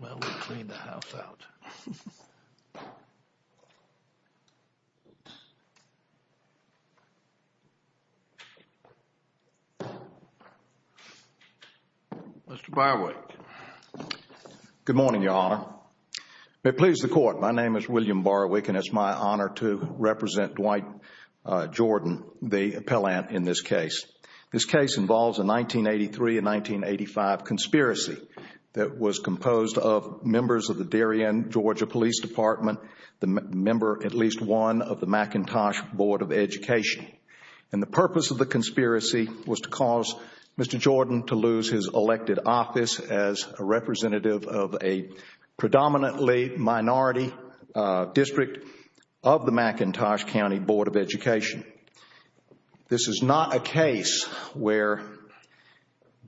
Well, we cleaned the house out. Mr. Barwick, good morning, Your Honor. May it please the Court, my name is William Barwick and it is my honor to represent Dwight Jordan, the appellant, in this case. This case involves a 1983 and 1985 conspiracy that was composed of members of the Darien, Georgia Police Department, the member, at least one, of the McIntosh Board of Education. And the purpose of the conspiracy was to cause Mr. Jordan to lose his elected office as a representative of a predominantly minority district of the McIntosh County Board of Education. This is not a case where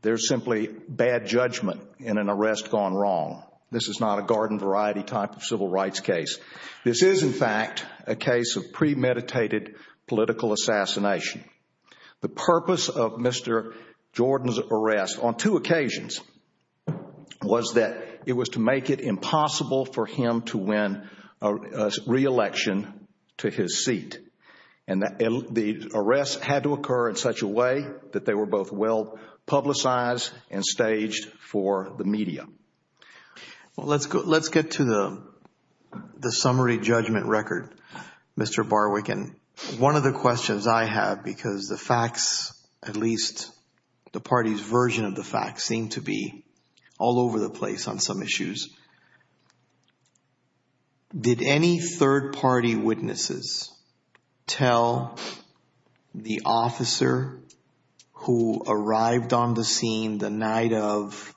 there is simply bad judgment in an arrest gone wrong. This is not a garden variety type of civil rights case. This is, in fact, a case of premeditated political assassination. The purpose of Mr. Jordan's arrest, on two occasions, was that it was to make it impossible for him to win a re-election to his seat. And the arrest had to occur in such a way that they were both well publicized and staged for the media. Well, let's get to the summary judgment record, Mr. Barwick. And one of the questions I have, because the facts, at least the party's version of the facts, seem to be all over the place on some issues. Did any third party witnesses tell the officer who arrived on the scene the night of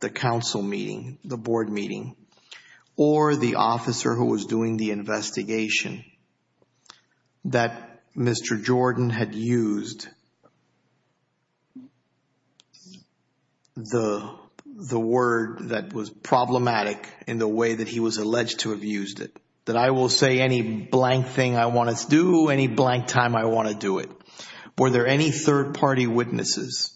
the council meeting, the board meeting, or the officer who was doing the was problematic in the way that he was alleged to have used it? That I will say any blank thing I want to do, any blank time I want to do it. Were there any third party witnesses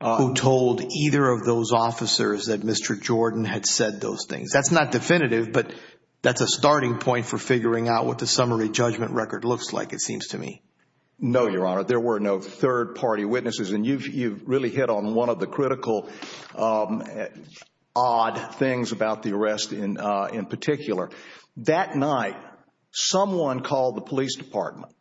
who told either of those officers that Mr. Jordan had said those things? That's not definitive, but that's a starting point for figuring out what the summary judgment record looks like, it seems to me. No, Your Honor. There were no third party witnesses. And you've really hit on one of the critical odd things about the arrest in particular. That night, someone called the police department.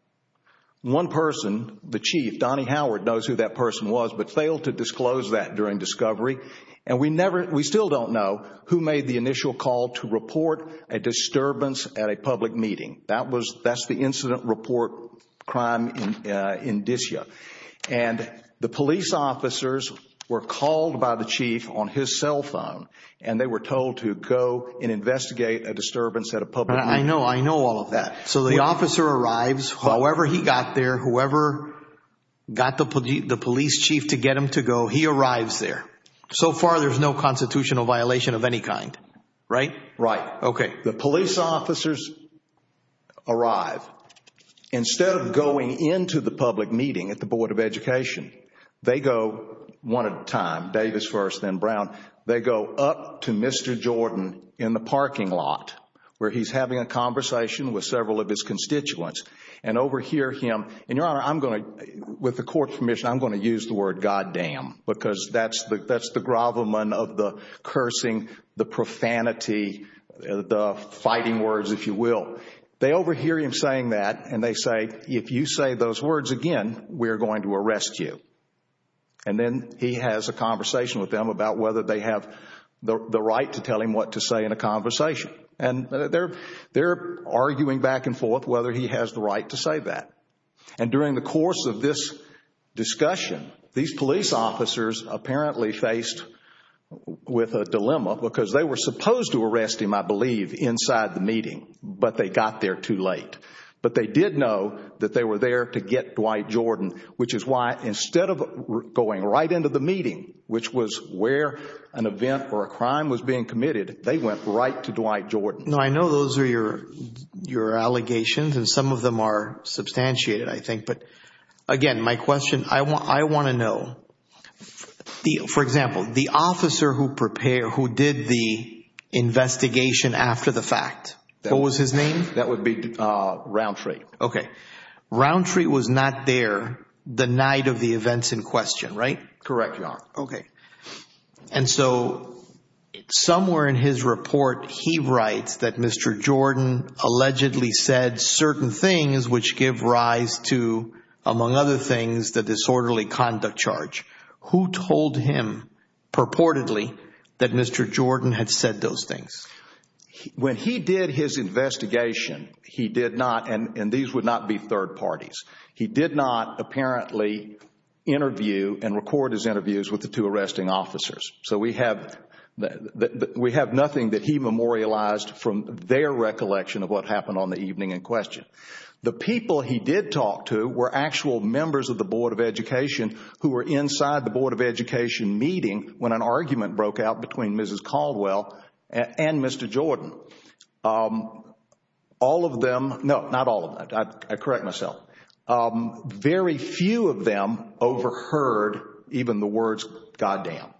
One person, the chief, Donnie Howard, knows who that person was, but failed to disclose that during discovery. And we still don't know who made the initial call to report a disturbance at a public meeting. That's the incident report crime indicia. And the police officers were called by the chief on his cell phone, and they were told to go and investigate a disturbance at a public meeting. I know, I know all of that. So the officer arrives, however he got there, whoever got the police chief to get him to go, he arrives there. So far, there's no constitutional violation of any kind, right? Right. The police officers arrive. Instead of going into the public meeting at the Board of Education, they go one at a time, Davis first, then Brown. They go up to Mr. Jordan in the parking lot, where he's having a conversation with several of his constituents. And over here him, and Your Honor, I'm going to, with the court's permission, I'm going to use the gravamen of the cursing, the profanity, the fighting words, if you will. They overhear him saying that, and they say, if you say those words again, we're going to arrest you. And then he has a conversation with them about whether they have the right to tell him what to say in a conversation. And they're arguing back and forth whether he has the right to say that. And during the course of this discussion, these police officers apparently faced with a dilemma because they were supposed to arrest him, I believe, inside the meeting, but they got there too late. But they did know that they were there to get Dwight Jordan, which is why instead of going right into the meeting, which was where an event or a crime was being committed, they went right to Dwight Jordan. I know those are your allegations, and some of them are substantiated, I think. But again, my question, I want to know, for example, the officer who did the investigation after the fact, what was his name? That would be Roundtree. Okay. Roundtree was not there the night of the events in question, right? Correct, Your Honor. Okay. And so somewhere in his report, he writes that Mr. Jordan allegedly said certain things which give rise to, among other things, the disorderly conduct charge. Who told him purportedly that Mr. Jordan had said those things? When he did his investigation, he did not, and these would not be third parties, he did not apparently interview and record his interviews with the two arresting officers. So we have nothing that he memorialized from their recollection of what happened on the evening in question. The people he did talk to were actual members of the Board of Education who were inside the Board of Education meeting when an argument broke out between Mrs. Caldwell and Mr. Jordan. All of them, no, not all of them, I correct myself. Very few of them overheard even the words goddamn.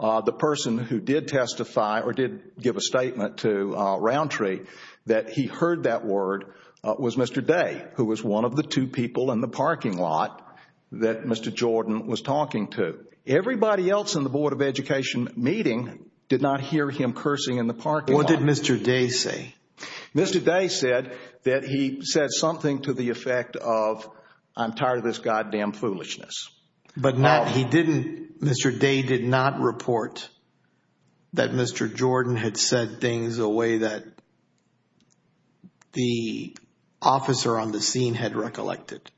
The person who did testify or did give a statement to Roundtree that he heard that word was Mr. Day, who was one of the two people in the parking lot that Mr. Jordan was talking to. Everybody else in the Board of Education meeting did not hear him cursing in the parking lot. What did Mr. Day say? Mr. Day said that he said something to the effect of, I'm tired of this goddamn foolishness. But not, he didn't, Mr. Day did not report that Mr. Jordan had said things a way that the officer on the scene had recollected?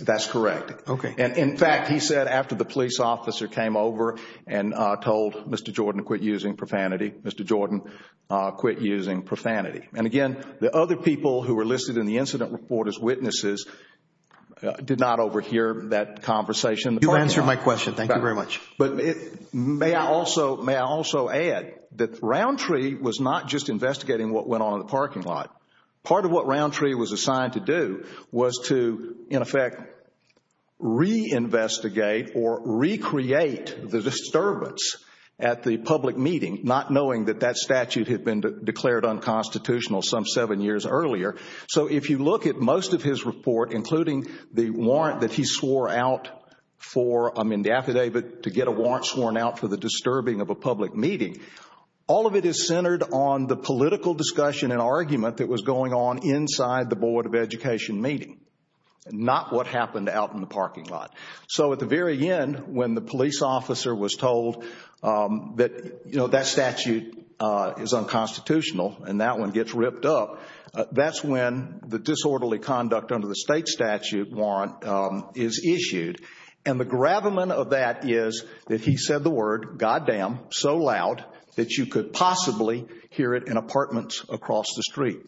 That's correct. In fact, he said after the police officer came over and told Mr. Jordan to quit using profanity, Mr. Jordan quit using profanity. And again, the other people who were listed in the incident report as witnesses did not overhear that conversation in the parking lot. You answered my question. Thank you very much. May I also add that Roundtree was not just investigating what went on in the parking lot. Part of what Roundtree was assigned to do was to, in effect, reinvestigate or recreate the disturbance at the public meeting, not knowing that that statute had been declared unconstitutional some seven years earlier. So if you look at most of his report, including the warrant that he swore out for, I mean, the affidavit to get a warrant sworn out for the disturbing of a public meeting, all of it is centered on the political discussion and argument that was going on inside the Board of Education meeting, not what happened out in the parking lot. So at the very end, when the police officer was told that, you know, that statute is unconstitutional and that one gets ripped up, that's when the disorderly conduct under the state statute warrant is issued. And the gravamen of that is that he said the word, God damn, so loud that you could possibly hear it in apartments across the street,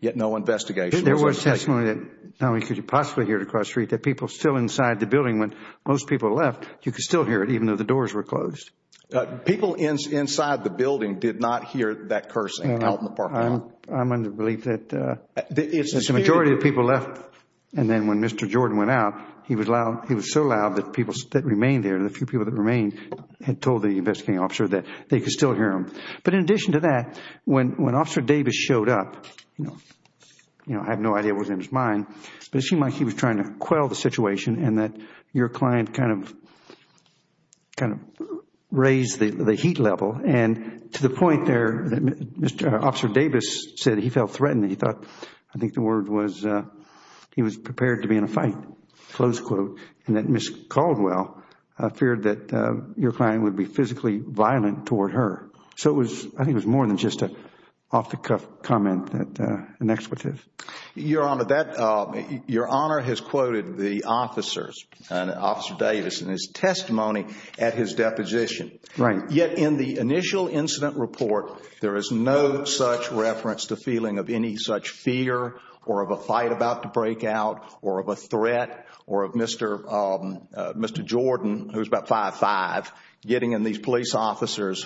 yet no investigation was undertaken. There was testimony that not only could you possibly hear it across the street, that people still inside the building when most people left, you could still hear it even though the doors were closed. People inside the building did not hear that cursing out in the parking lot. I'm under the belief that the majority of the people left and then when Mr. Jordan went out, he was so loud that people that remained there, the few people that remained, had told the investigating officer that they could still hear him. But in addition to that, when Officer Davis showed up, you know, I have no idea what was in his mind, but it seemed like he was trying to quell the situation and that your client kind of raised the heat level and to the point there, Officer Davis said he felt threatened. He thought, I think the word was, he was prepared to be in a fight, close quote, and that Ms. Caldwell feared that your client would be physically violent toward her. So I think it was more than just an off the cuff comment, an expletive. Your Honor, that, your Honor has quoted the officers, Officer Davis, in his testimony at his deposition. Right. Yet in the initial incident report, there is no such reference to feeling of any such fear or of a fight about to break out or of a threat or of Mr. Jordan, who is about 5'5", getting in these police officers'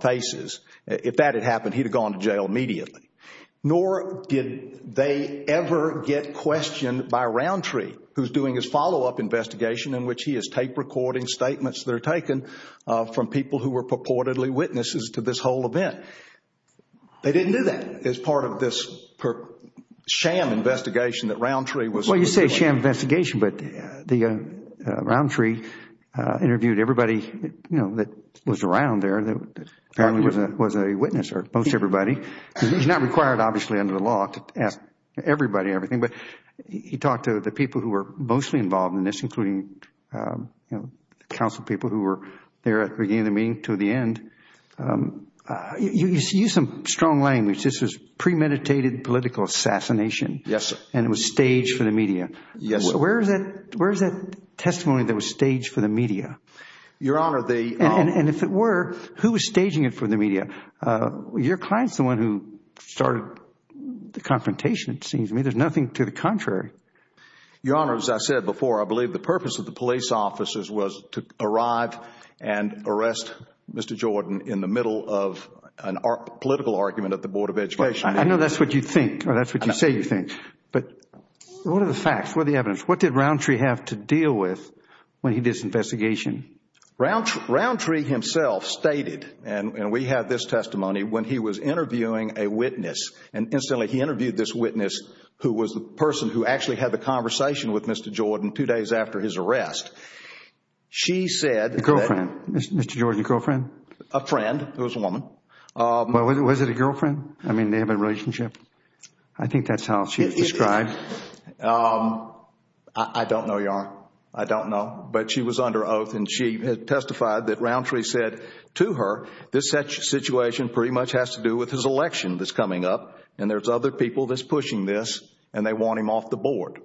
faces. If that had happened, he would have gone to jail immediately. Nor did they ever get questioned by Roundtree, who is doing his follow-up investigation in which he is tape recording statements that are taken from people who were purportedly witnesses to this whole event. They didn't do that as part of this sham investigation that Roundtree was. Well, you say sham investigation, but Roundtree interviewed everybody, you know, that was around there that apparently was a witness, or most everybody, because he is not required obviously under the law to ask everybody everything. But he talked to the people who were mostly involved in this, including, you know, council people who were there at the beginning of the meeting to the end. You used some strong language. This was premeditated political assassination. Yes, sir. And it was staged for the media. Yes, sir. Where is that testimony that was staged for the media? Your Honor, the And if it were, who was staging it for the media? Your client is the one who started the confrontation, it seems to me. There is nothing to the contrary. Your Honor, as I said before, I believe the purpose of the police officers was to arrive and arrest Mr. Jordan in the middle of a political argument at the Board of Education. I know that is what you think, or that is what you say you think. But what are the facts? What are the evidence? What did Roundtree have to deal with when he did this investigation? Roundtree himself stated, and we have this testimony, when he was interviewing a witness, and instantly he interviewed this witness who was the person who actually had the conversation with Mr. Jordan two days after his arrest. She said A girlfriend? Mr. Jordan's girlfriend? A friend. It was a woman. Was it a girlfriend? I mean, they have a relationship? I think that is how she was described. I don't know, Your Honor. I don't know. But she was under oath and she testified that Roundtree said to her, this situation pretty much has to do with his election that is coming up and there are other people that are pushing this and they want him off the board.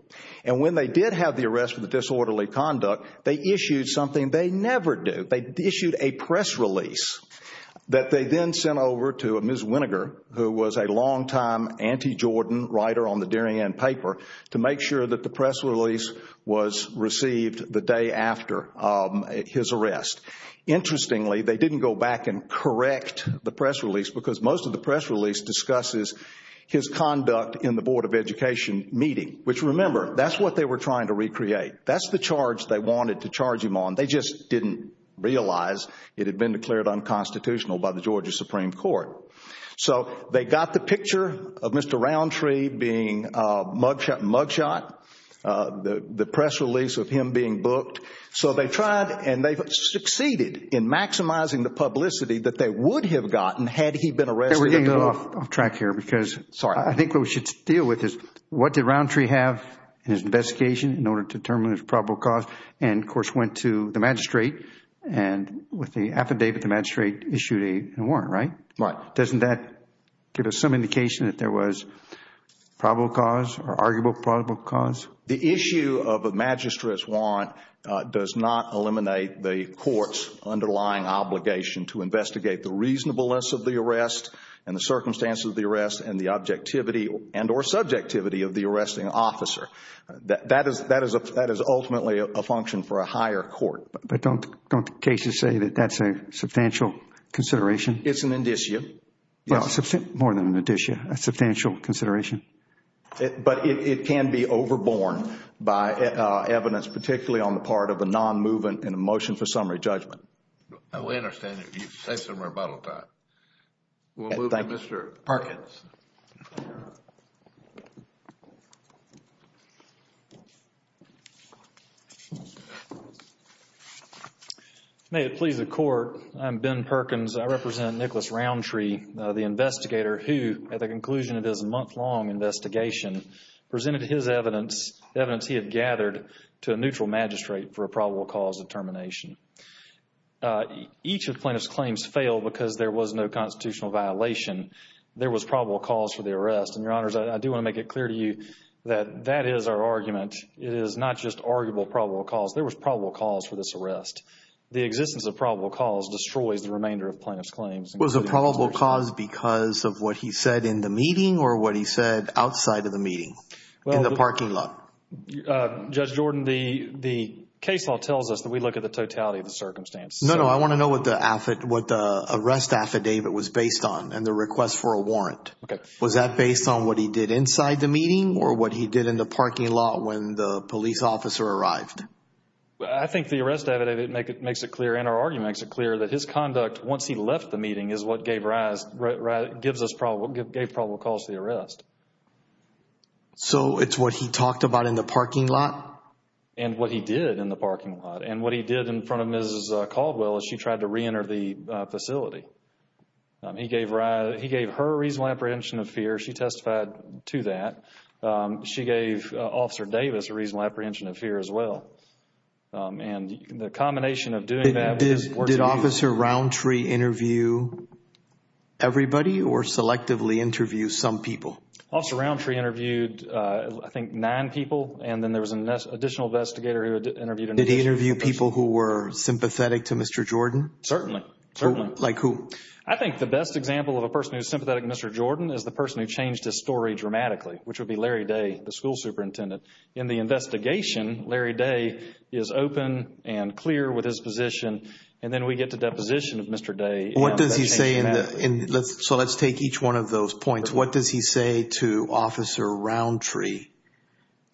And when they did have the arrest for the disorderly conduct, they issued something they never do. They issued a press release that they then sent over to Ms. Winneger, who was a longtime anti-Jordan writer on the Durian paper, to make sure that the press release was received the day after his arrest. Interestingly, they didn't go back and correct the press release because most of the press release discusses his conduct in the Board of Education meeting, which remember, that's what they were trying to recreate. That's the charge they wanted to charge him on. They just didn't realize it had been declared unconstitutional by the Georgia Supreme Court. So they got the picture of Mr. Roundtree being mugshot, the press release of him being booked. So they tried and they succeeded in maximizing the publicity that they would have gotten had he been arrested. We are getting a little off track here because I think what we should deal with is what did Roundtree have in his investigation in order to determine his probable cause and of course went to the magistrate and with the affidavit the magistrate issued a warrant, right? Right. Doesn't that give us some indication that there was probable cause or arguable probable cause? The issue of a magistrate's warrant does not eliminate the court's underlying obligation to investigate the reasonableness of the arrest and the circumstances of the arrest and the objectivity and or subjectivity of the arresting officer. That is ultimately a function for a higher court. But don't the cases say that that's a substantial consideration? It's an indicia. Well, more than an indicia, a substantial consideration. But it can be overborne by evidence particularly on the part of a non-movement in a motion for summary judgment. I understand that. You say something about that. We'll move to Mr. Perkins. May it please the court, I'm Ben Perkins. I represent Nicholas Roundtree, the investigator who at the conclusion of his month-long investigation presented his evidence, evidence he had gathered to a neutral magistrate for a probable cause determination. Each of the plaintiff's claims failed because there was no constitutional violation. There was probable cause for the arrest. And, Your Honors, I do want to make it clear to you that that is our argument. It is not just arguable probable cause. There was probable cause for this arrest. The existence of probable cause destroys the remainder of plaintiff's claims. Was the probable cause because of what he said in the meeting or what he said outside of the meeting in the parking lot? Judge Jordan, the case law tells us that we look at the totality of the circumstance. No, no. I want to know what the arrest affidavit was based on and the request for a warrant. Was that based on what he did inside the meeting or what he did in the parking lot when the police officer arrived? I think the arrest affidavit makes it clear and our argument makes it clear that his conduct once he left the meeting is what gave rise, gives us probable cause for the arrest. So, it's what he talked about in the parking lot? And what he did in the parking lot. And what he did in front of Mrs. Caldwell as she tried to reenter the facility. He gave her a reasonable apprehension of fear. She testified to that. She gave Officer Davis a reasonable apprehension of fear as well. And the combination of doing that... Did Officer Roundtree interview everybody or selectively interview some people? Officer Roundtree interviewed, I think, nine people and then there was an additional investigator who interviewed... Did he interview people who were sympathetic to Mr. Jordan? Certainly. Like who? I think the best example of a person who is sympathetic to Mr. Jordan is the person who changed his story dramatically, which would be Larry Day, the school superintendent. In the investigation, Larry Day is open and clear with his position and then we get to deposition of Mr. Day... What does he say in the... So, let's take each one of those points. What does he say to Officer Roundtree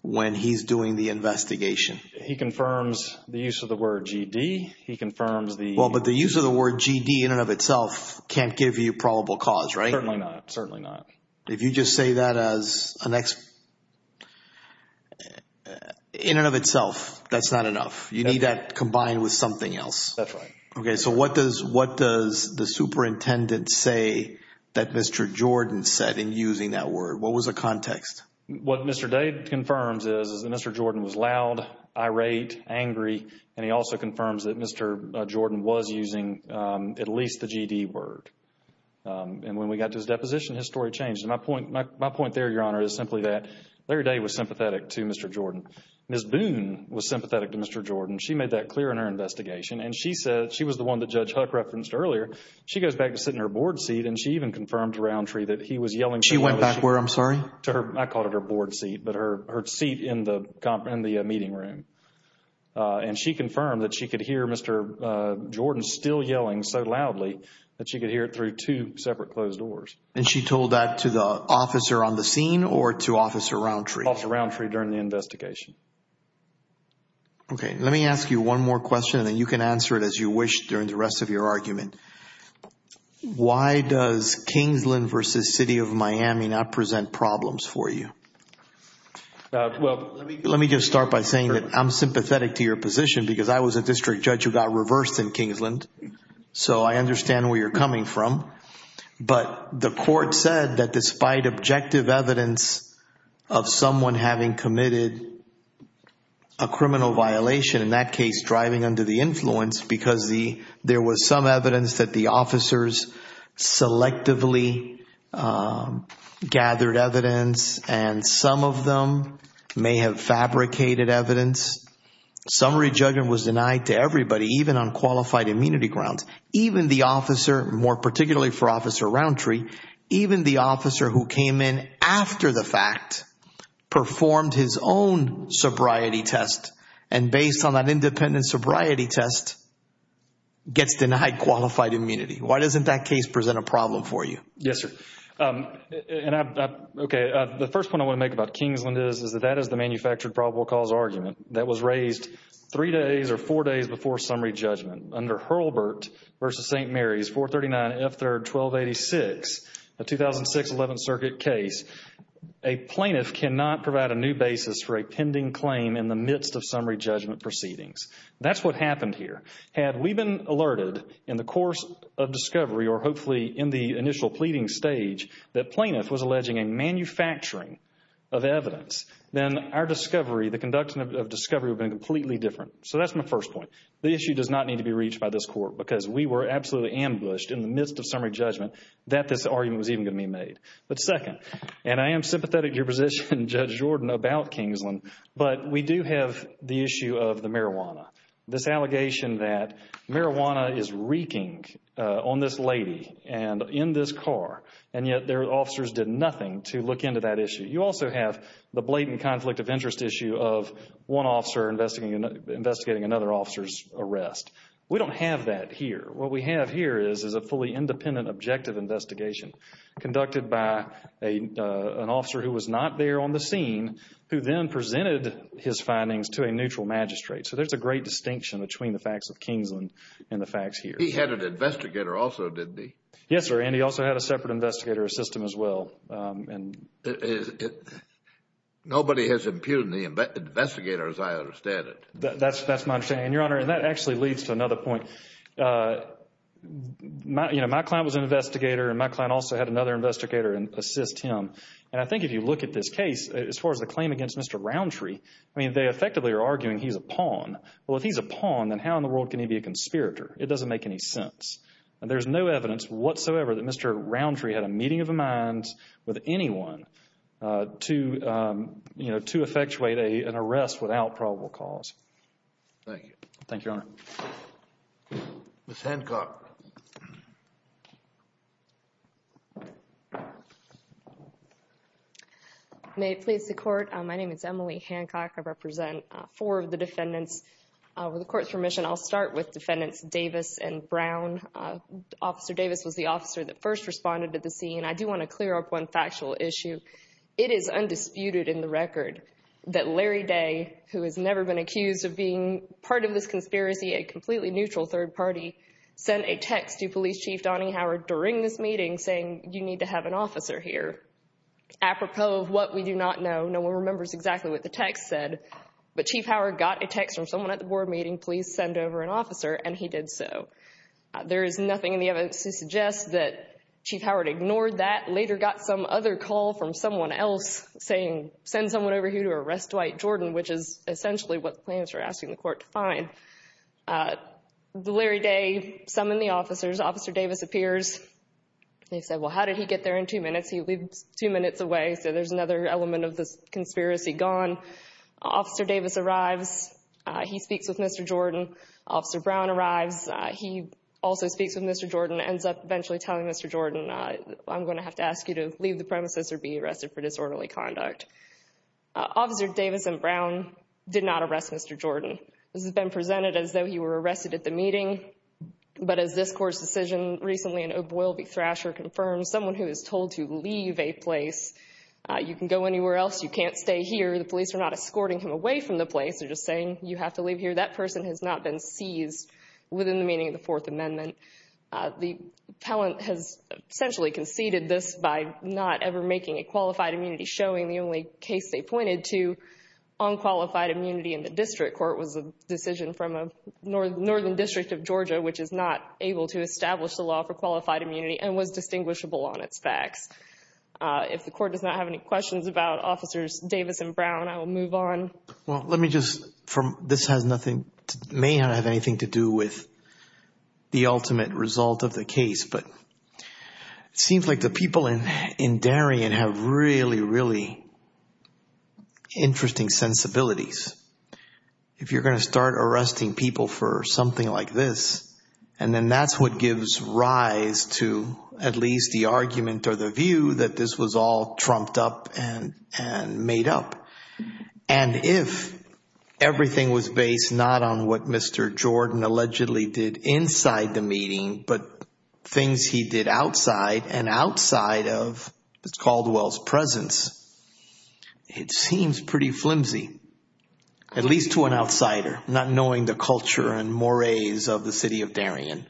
when he's doing the investigation? He confirms the use of the word G.D. He confirms the... Well, but the use of the word G.D. in and of itself can't give you probable cause, right? Certainly not. Certainly not. If you just say that as an... In and of itself, that's not enough. You need that combined with something else. That's right. Okay. So, what does the superintendent say that Mr. Jordan said in using that word? What was the context? What Mr. Day confirms is that Mr. Jordan was loud, irate, angry and he also confirms that Mr. Jordan was using at least the G.D. word. And when we got to his deposition, his story changed. My point there, Your Honor, is simply that Larry Day was sympathetic to Mr. Jordan. Ms. Boone was sympathetic to Mr. Jordan. She made that clear in her investigation and she said... She was the one that Judge Huck referenced earlier. She goes back to sitting in her board seat and she even confirmed to Roundtree that he was yelling... She went back where? I'm sorry? I called it her board seat, but her seat in the meeting room. And she confirmed that she could hear it through two separate closed doors. And she told that to the officer on the scene or to Officer Roundtree? Officer Roundtree during the investigation. Okay. Let me ask you one more question and then you can answer it as you wish during the rest of your argument. Why does Kingsland v. City of Miami not present problems for you? Well... Let me just start by saying that I'm sympathetic to your position because I was a district judge who got reversed in Kingsland. So I understand where you're coming from. But the court said that despite objective evidence of someone having committed a criminal violation, in that case driving under the influence, because there was some evidence that the officers selectively gathered evidence and some of them may have fabricated evidence. Summary everybody, even on qualified immunity grounds, even the officer, more particularly for Officer Roundtree, even the officer who came in after the fact, performed his own sobriety test and based on that independent sobriety test, gets denied qualified immunity. Why doesn't that case present a problem for you? Yes, sir. Okay. The first point I want to make about Kingsland is that that is the manufactured probable cause argument that was raised three days or four days before summary judgment. Under Hurlburt v. St. Mary's 439F3R1286, a 2006 11th Circuit case, a plaintiff cannot provide a new basis for a pending claim in the midst of summary judgment proceedings. That's what happened here. Had we been alerted in the course of discovery or hopefully in the initial pleading stage that plaintiff was alleging a manufacturing of evidence, then our discovery, the conduction of discovery would have been completely different. So that's my first point. The issue does not need to be reached by this Court because we were absolutely ambushed in the midst of summary judgment that this argument was even going to be made. But second, and I am sympathetic to your position, Judge Jordan, about Kingsland, but we do have the issue of the marijuana. This allegation that marijuana is reeking on this lady and in this car and yet their officers did nothing to look into that issue. You also have the blatant conflict of interest issue of one officer investigating another officer's arrest. We don't have that here. What we have here is a fully independent objective investigation conducted by an officer who was not there on the scene who then presented his findings to a neutral magistrate. So there's a great distinction between the facts of Kingsland and the facts here. He had an investigator also, didn't he? Yes, sir. And he also had a separate investigator assistant as well. Nobody has impugned the investigator as I understand it. That's my understanding, Your Honor, and that actually leads to another point. My client was an investigator and my client also had another investigator assist him. And I think if you look at this case, as far as the claim against Mr. Roundtree, I mean, they effectively are arguing he's a pawn. Well, if he's a pawn, then how in the world can he be a conspirator? It doesn't make any sense. There's no evidence whatsoever that Mr. Roundtree had a meeting of the minds with anyone to effectuate an arrest without probable cause. Thank you. Thank you, Your Honor. Ms. Hancock. May it please the Court, my name is Emily Hancock. I represent four of the defendants. With the Court's permission, I'll start with Defendants Davis and Brown. Officer Davis was the officer that first responded to the scene. I do want to clear up one factual issue. It is undisputed in the record that Larry Day, who has never been accused of being part of this conspiracy, a completely neutral third party, sent a text to Police Chief Donnie Howard during this meeting saying, you need to have an officer here. Apropos of what we do not know, no one remembers exactly what the text said, but Chief Howard got a text from someone at the board meeting, please send over an officer, and he did so. There is nothing in the evidence to suggest that Chief Howard ignored that, later got some other call from someone else saying, send someone over here to arrest Dwight Jordan, which is essentially what the plaintiffs were asking the Court to find. Larry Day summoned the officers. Officer Davis appears. They said, well, how did he get there in two minutes? He lived two minutes away, so there's another element of this conspiracy gone. Officer Davis arrives. He speaks with Mr. Jordan. Officer Brown arrives. He also speaks with Mr. Jordan, ends up eventually telling Mr. Jordan, I'm going to have to ask you to leave the premises or be arrested for disorderly conduct. Officer Davis and Brown did not arrest Mr. Jordan. This has been presented as though he were arrested at the meeting, but as this Court's decision recently in O'Boyle v. Thrasher confirms, someone who is told to leave a place, you can go anywhere else, you can't stay here, the police are not escorting him away from the place. They're just saying, you have to leave here. That person has not been seized within the meaning of the Fourth Amendment. The appellant has essentially conceded this by not ever making a qualified immunity, showing the only case they pointed to on qualified immunity in the district court was a decision from a northern district of Georgia, which is not able to establish the law for qualified immunity and was distinguishable on its facts. If the Court does not have any questions about Officers Davis and Brown, I will move on. Well, let me just, this may not have anything to do with the ultimate result of the case, but it seems like the people in Darien have really, really interesting sensibilities. If you're going to start arresting people for something like this, and then that's what gives rise to at least the argument or the view that this was all trumped up and made up. And if everything was based not on what Mr. Jordan allegedly did inside the meeting, but things he did outside and outside of Ms. Caldwell's presence, it seems pretty flimsy, at least to an outsider, not knowing the culture and mores of the city of Darien.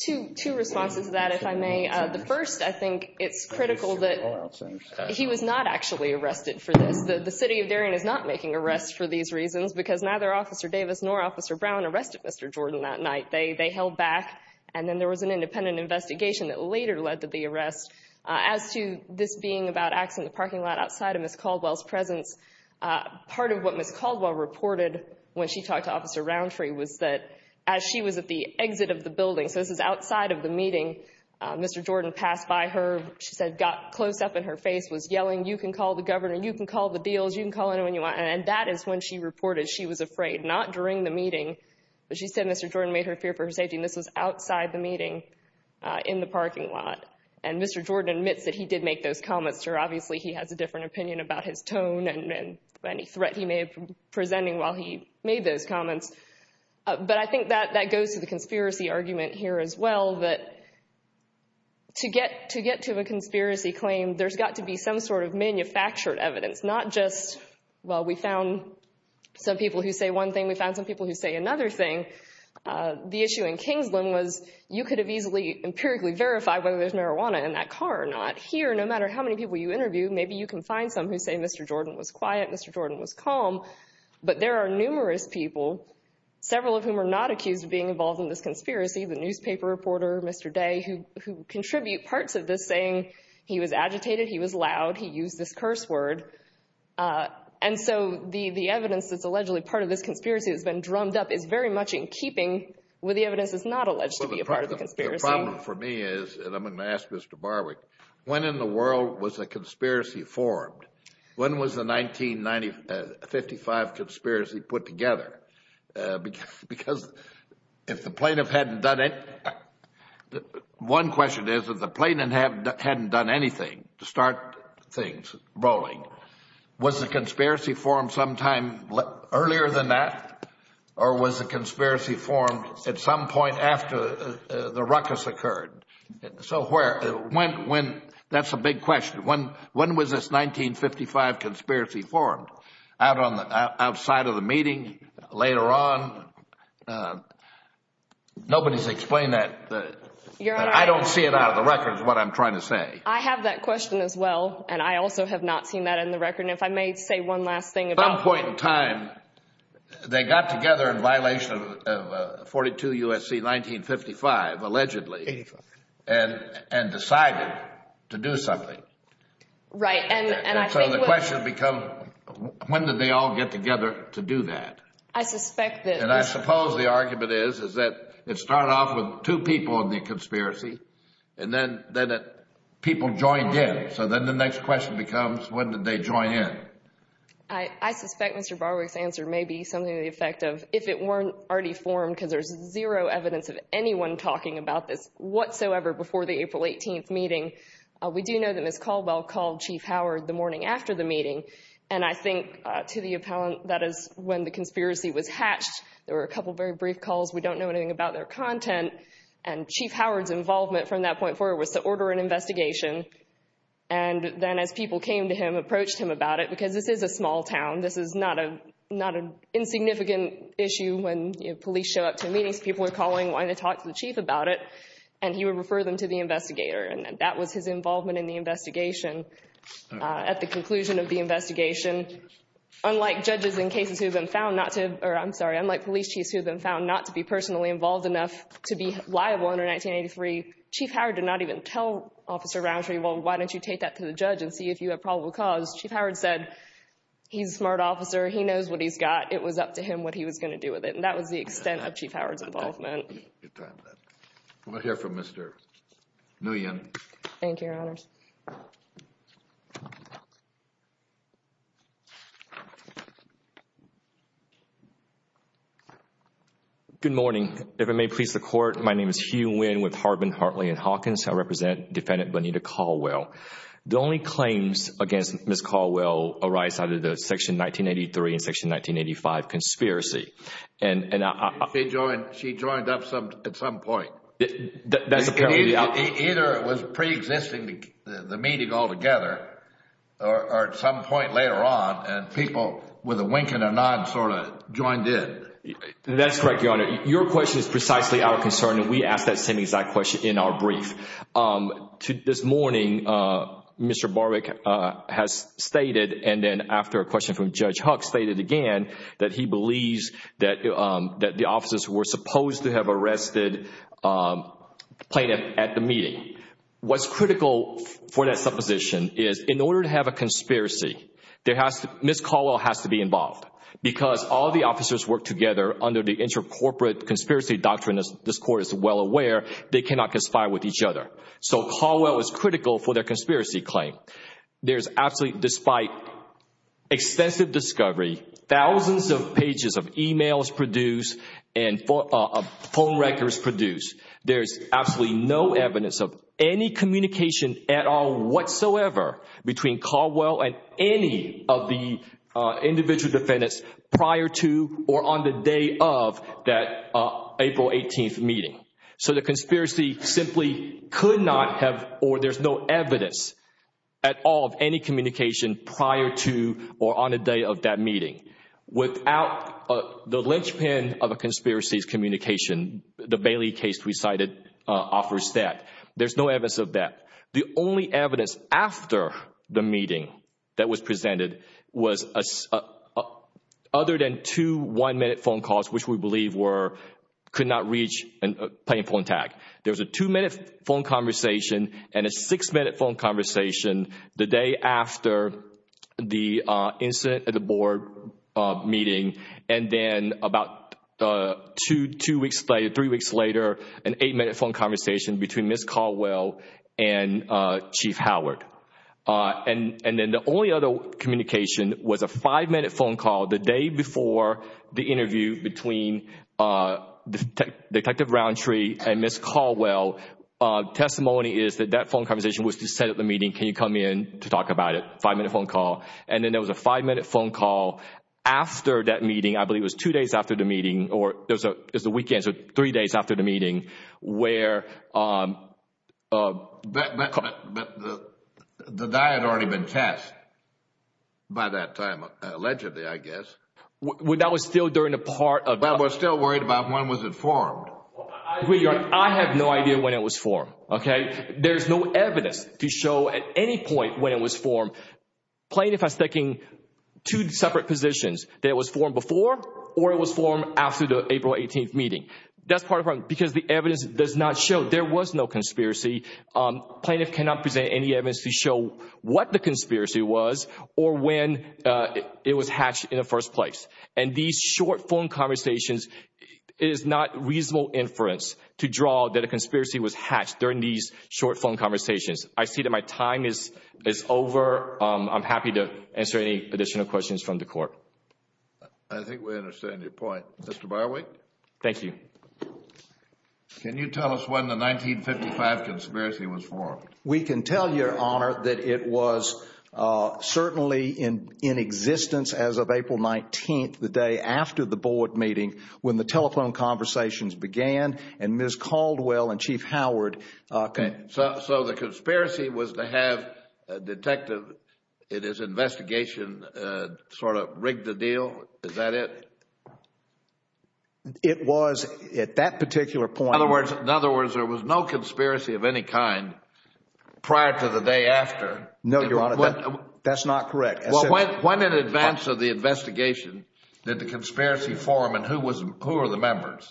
Two responses to that, if I may. The first, I think it's critical that he was not actually arrested for this. The city of Darien is not making arrests for these reasons because neither Officer Davis nor Officer Brown arrested Mr. Jordan that night. They held back, and then there was an independent investigation that later led to the arrest. As to this being about acts in the parking lot outside of Ms. Caldwell's presence, part of what Ms. Caldwell reported when she talked to Officer Roundtree was that as she was at the exit of the building, so this is outside of the meeting, Mr. Jordan passed by her, she said got close up in her face, was yelling, you can call the governor, you can call the deals, you can call anyone you want. And that is when she reported she was afraid, not during the meeting, but she said Mr. Jordan made her fear for her safety, and this was outside the meeting in the parking lot. And Mr. Jordan admits that he did make those comments to her. And any threat he may have been presenting while he made those comments. But I think that goes to the conspiracy argument here as well, that to get to a conspiracy claim, there's got to be some sort of manufactured evidence, not just, well, we found some people who say one thing, we found some people who say another thing. The issue in Kingsland was you could have easily empirically verified whether there's marijuana in that car or not. Here, no matter how many people you interview, maybe you can find some who say Mr. Jordan was quiet, Mr. Jordan was calm. But there are numerous people, several of whom are not accused of being involved in this conspiracy, the newspaper reporter, Mr. Day, who contribute parts of this saying he was agitated, he was loud, he used this curse word. And so the evidence that's allegedly part of this conspiracy that's been drummed up is very much in keeping with the evidence that's not alleged to be a part of the conspiracy. The problem for me is, and I'm going to ask Mr. Barwick, when in the world was a conspiracy formed? When was the 1955 conspiracy put together? Because if the plaintiff hadn't done it, one question is, if the plaintiff hadn't done anything to start things rolling, was the conspiracy formed sometime earlier than that? Or was the conspiracy formed at some point after the ruckus occurred? So where, when, that's a big question. When was this 1955 conspiracy formed? Outside of the meeting? Later on? Nobody's explained that. I don't see it out of the record is what I'm trying to say. I have that question as well, and I also have not seen that in the record. And if I may say one last thing about At some point in time, they got together in violation of 42 U.S.C. 1955, allegedly, and decided to do something. Right. And so the question becomes, when did they all get together to do that? I suspect that And I suppose the argument is, is that it started off with two people in the conspiracy, and then people joined in. So then the next question becomes, when did they join in? I suspect Mr. Barwick's answer may be something to the effect of, if it weren't already formed, because there's zero evidence of anyone talking about this whatsoever before the April 18th meeting. We do know that Ms. Caldwell called Chief Howard the morning after the meeting. And I think to the appellant, that is when the conspiracy was hatched. There were a couple of very brief calls. We don't know anything about their content. And Chief Howard's involvement from that point forward was to order an investigation. And then as people came to him, approached him about it, because this is a small town. This is not an insignificant issue. When police show up to meetings, people are calling, wanting to talk to the chief about it. And he would refer them to the investigator. And that was his involvement in the investigation. At the conclusion of the investigation, unlike judges in cases who have been found not to, or I'm sorry, unlike police chiefs who have been found not to be personally involved enough to be liable under 1983, Chief Howard did not even tell Officer Rowntree, well, why don't you take that to the judge and see if you have probable cause. Chief Howard said, he's a smart officer. He knows what he's got. It was up to him what he was going to do with it. And that was the extent of Chief Howard's involvement. We'll hear from Mr. Nguyen. Thank you, Your Honors. Good morning. If it may please the Court, my name is Hugh Nguyen with Harbin, Hartley & Hawkins. I represent Defendant Bonita Caldwell. The only claims against Ms. Caldwell arise out of the Section 1983 and Section 1985 conspiracy. She joined up at some point. Either it was pre-existing, the meeting altogether, or at some point later on, and people with a wink and a nod sort of joined in. That's correct, Your Honor. Your question is precisely our concern, and we asked that same exact question in our brief. This morning, Mr. Barbic has stated, and then after a question from Judge Huck, stated again, that he believes that the officers were supposed to have arrested the plaintiff at the meeting. What's critical for that supposition is, in order to have a conspiracy, Ms. Caldwell has to be involved. Because all the officers work together under the inter-corporate conspiracy doctrine, as this Court is well aware, they cannot conspire with each other. So Caldwell is critical for their conspiracy claim. There is absolutely, despite extensive discovery, thousands of pages of emails produced and phone records produced, there is absolutely no evidence of any communication at all whatsoever between Caldwell and any of the individual defendants prior to or on the day of that April 18th meeting. So the conspiracy simply could not have, or there's no evidence at all of any communication prior to or on the day of that meeting. Without the linchpin of a conspiracy's communication, the Bailey case we cited offers that. There's no evidence of that. The only evidence after the meeting that was presented was other than two one-minute phone calls, which we believe were, could not reach a plaintiff on tag. There was a two-minute phone conversation and a six-minute phone conversation the day after the incident at the board meeting. And then about two weeks later, three weeks later, an eight-minute phone conversation between Ms. Caldwell and Chief Howard. And then the only other communication was a five-minute phone call the day before the interview between Detective Roundtree and Ms. Caldwell. Testimony is that that phone conversation was to set up the meeting, can you come in to talk about it, five-minute phone call. And then there was a five-minute phone call after that meeting, I believe it was two days after the meeting, or it was the weekend, so three days after the meeting, where The guy had already been tested by that time, allegedly, I guess. Well, that was still during the part of I was still worried about when was it formed. I have no idea when it was formed, okay? There's no evidence to show at any point when it was formed, plaintiff has taken two separate positions, that it was formed before or it was formed after the April 18th meeting. That's part of the problem, because the evidence does not show there was no conspiracy. Plaintiff cannot present any evidence to show what the conspiracy was or when it was hatched in the first place. And these short phone conversations, it is not reasonable inference to draw that a conspiracy was hatched during these short phone conversations. I see that my time is over, I'm happy to answer any additional questions from the court. I think we understand your point. Mr. Barwick? Thank you. Can you tell us when the 1955 conspiracy was formed? We can tell you, Your Honor, that it was certainly in existence as of April 19th, the day after the board meeting, when the telephone conversations began, and Ms. Caldwell and Chief Howard So the conspiracy was to have a detective in his investigation sort of rig the deal, is that it? It was at that particular point. In other words, there was no conspiracy of any kind prior to the day after. No, Your Honor, that's not correct. When in advance of the investigation did the conspiracy form and who were the members?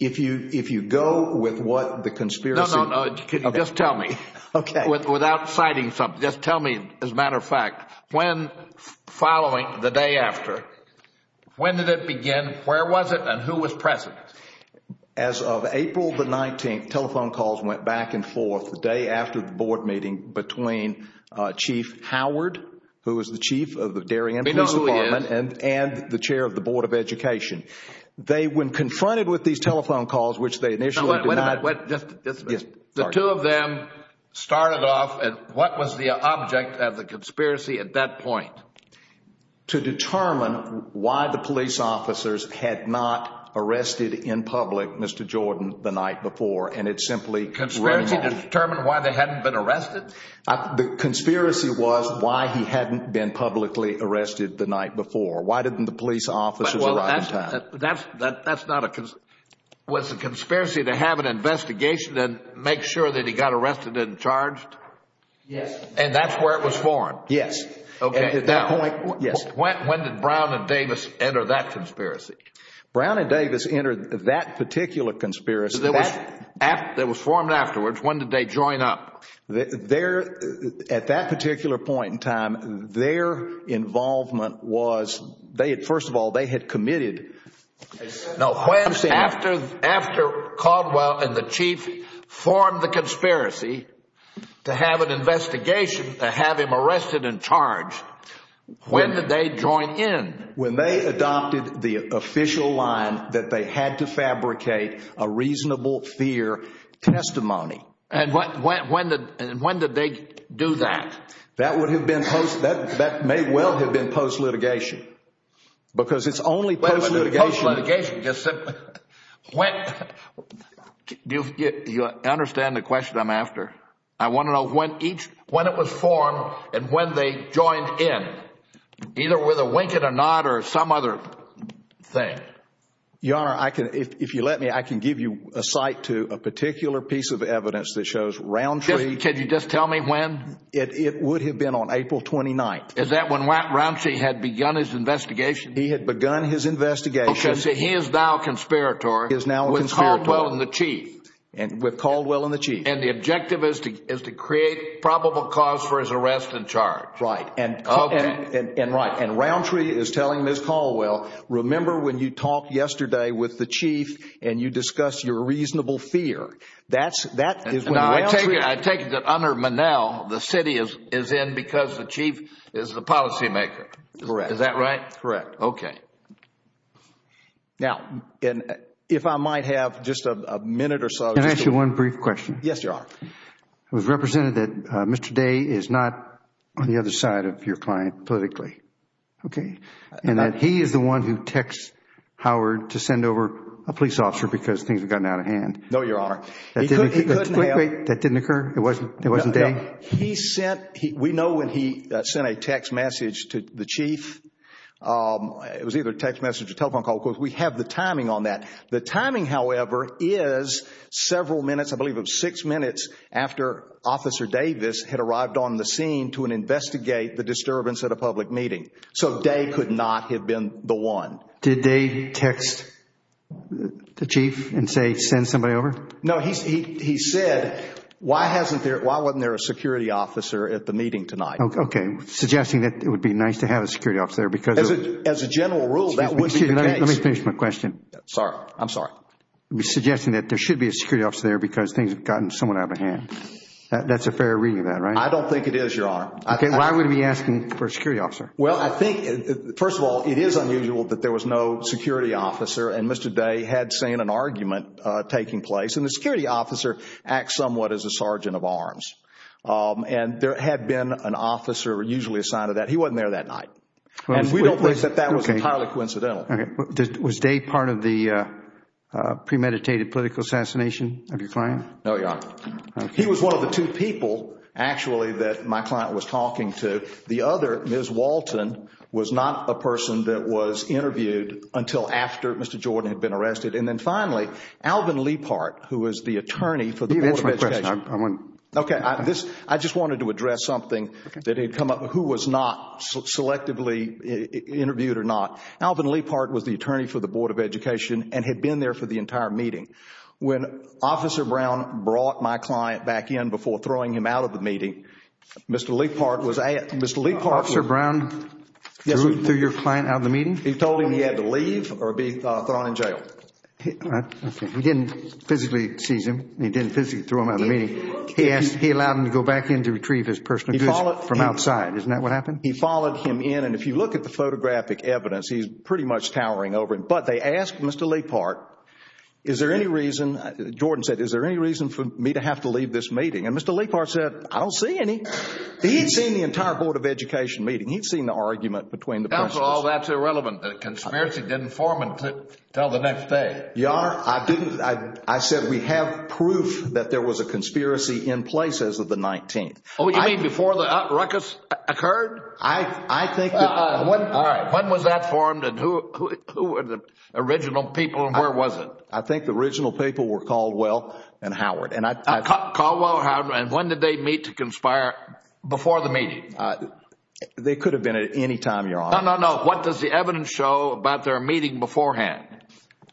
If you go with what the conspiracy… No, no, no, just tell me. Okay. Without citing something, just tell me as a matter of fact, when following the day after, when did it begin, where was it, and who was present? As of April the 19th, telephone calls went back and forth the day after the board meeting between Chief Howard, who was the chief of the Darien Police Department… We know who he is. …and the chair of the Board of Education. They, when confronted with these telephone calls, which they initially did not… Wait a minute. The two of them started off, and what was the object of the conspiracy at that point? To determine why the police officers had not arrested in public Mr. Jordan the night before, and it simply… Conspiracy to determine why they hadn't been arrested? The conspiracy was why he hadn't been publicly arrested the night before. Why didn't the police officers arrive in time? That's not a… Was the conspiracy to have an investigation and make sure that he got arrested and charged? Yes. And that's where it was formed? Yes. Okay. At that point, yes. When did Brown and Davis enter that conspiracy? Brown and Davis entered that particular conspiracy. That was formed afterwards. When did they join up? At that particular point in time, their involvement was… First of all, they had committed… No. After Caldwell and the chief formed the conspiracy to have an investigation to have him arrested and charged, when did they join in? When they adopted the official line that they had to fabricate a reasonable fear testimony. And when did they do that? That may well have been post-litigation because it's only post-litigation… Post-litigation. You understand the question I'm after? I want to know when it was formed and when they joined in, either with a wink and a nod or some other thing. Your Honor, if you let me, I can give you a site to a particular piece of evidence that shows Roundtree… Could you just tell me when? It would have been on April 29th. Is that when Roundtree had begun his investigation? He had begun his investigation… Okay, so he is now a conspirator. He is now a conspirator. With Caldwell and the chief. With Caldwell and the chief. And the objective is to create probable cause for his arrest and charge. Right. And Roundtree is telling Ms. Caldwell, remember when you talked yesterday with the chief and you discussed your reasonable fear. That is when Roundtree… I take it that under Monell, the city is in because the chief is the policymaker. Correct. Is that right? Correct. Okay. Now, if I might have just a minute or so… Can I ask you one brief question? Yes, Your Honor. It was represented that Mr. Day is not on the other side of your client politically. Okay. And that he is the one who texts Howard to send over a police officer because things have gotten out of hand. No, Your Honor. He couldn't have. That didn't occur? It wasn't Day? No. We know when he sent a text message to the chief. It was either a text message or telephone call. Of course, we have the timing on that. The timing, however, is several minutes, I believe it was six minutes, after Officer Davis had arrived on the scene to investigate the disturbance at a public meeting. So, Day could not have been the one. Did Day text the chief and say, send somebody over? No. He said, why wasn't there a security officer at the meeting tonight? Okay. Suggesting that it would be nice to have a security officer because… As a general rule, that would be the case. Excuse me. Let me finish my question. Sorry. I'm sorry. Suggesting that there should be a security officer there because things have gotten somewhat out of hand. That's a fair reading of that, right? I don't think it is, Your Honor. Okay. Why would he be asking for a security officer? Well, I think, first of all, it is unusual that there was no security officer and Mr. Day had seen an argument taking place. And the security officer acts somewhat as a sergeant of arms. And there had been an officer usually assigned to that. He wasn't there that night. And we don't think that that was entirely coincidental. Was Day part of the premeditated political assassination of your client? No, Your Honor. Okay. He was one of the two people, actually, that my client was talking to. The other, Ms. Walton, was not a person that was interviewed until after Mr. Jordan had been arrested. And then, finally, Alvin Liepard, who was the attorney for the Board of Education. You've answered my question. Okay. I just wanted to address something that had come up. Who was not selectively interviewed or not? Alvin Liepard was the attorney for the Board of Education and had been there for the entire meeting. When Officer Brown brought my client back in before throwing him out of the meeting, Mr. Liepard was asked. Officer Brown threw your client out of the meeting? He told him he had to leave or be thrown in jail. He didn't physically seize him. He didn't physically throw him out of the meeting. He allowed him to go back in to retrieve his personal goods from outside. Isn't that what happened? He followed him in. And if you look at the photographic evidence, he's pretty much towering over him. But they asked Mr. Liepard, is there any reason, Jordan said, is there any reason for me to have to leave this meeting? And Mr. Liepard said, I don't see any. He'd seen the entire Board of Education meeting. He'd seen the argument between the press. That's irrelevant. The conspiracy didn't form until the next day. Your Honor, I said we have proof that there was a conspiracy in place as of the 19th. Oh, you mean before the ruckus occurred? All right. When was that formed and who were the original people and where was it? I think the original people were Caldwell and Howard. Caldwell and Howard. And when did they meet to conspire before the meeting? They could have been at any time, Your Honor. No, no, no. What does the evidence show about their meeting beforehand?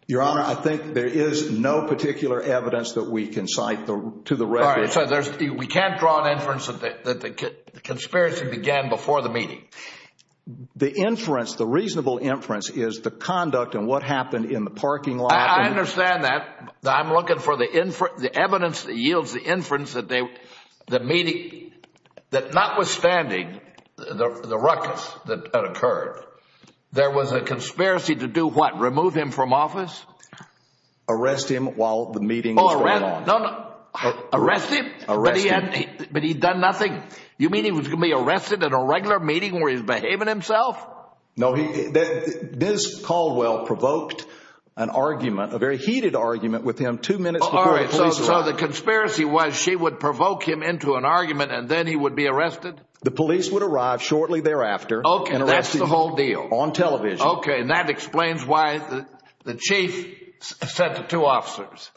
Your Honor, I think there is no particular evidence that we can cite to the record. We can't draw an inference that the conspiracy began before the meeting. The inference, the reasonable inference, is the conduct and what happened in the parking lot. I understand that. I'm looking for the evidence that yields the inference that the meeting, that notwithstanding the ruckus that occurred, there was a conspiracy to do what? Remove him from office? Arrest him while the meeting was going on. No, no, no. Arrest him? Arrest him. But he had done nothing? You mean he was going to be arrested at a regular meeting where he was behaving himself? No. Ms. Caldwell provoked an argument, a very heated argument, with him two minutes before the police arrived. All right. So the conspiracy was she would provoke him into an argument and then he would be arrested? The police would arrive shortly thereafter and arrest him. Okay. That's the whole deal. On television. Okay. And that explains why the chief sent the two officers.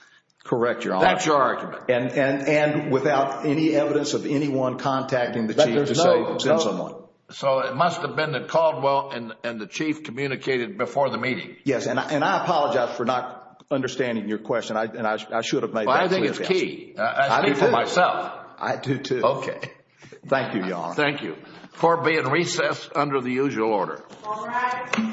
Correct, Your Honor. That's your argument. And without any evidence of anyone contacting the chief to send someone. So it must have been that Caldwell and the chief communicated before the meeting. Yes. And I apologize for not understanding your question. I should have made that clear. Well, I think it's key. I do, too. I speak for myself. I do, too. Okay. Thank you, Your Honor. Thank you for being recessed under the usual order. All right. Thank you. Thank you. Thank you.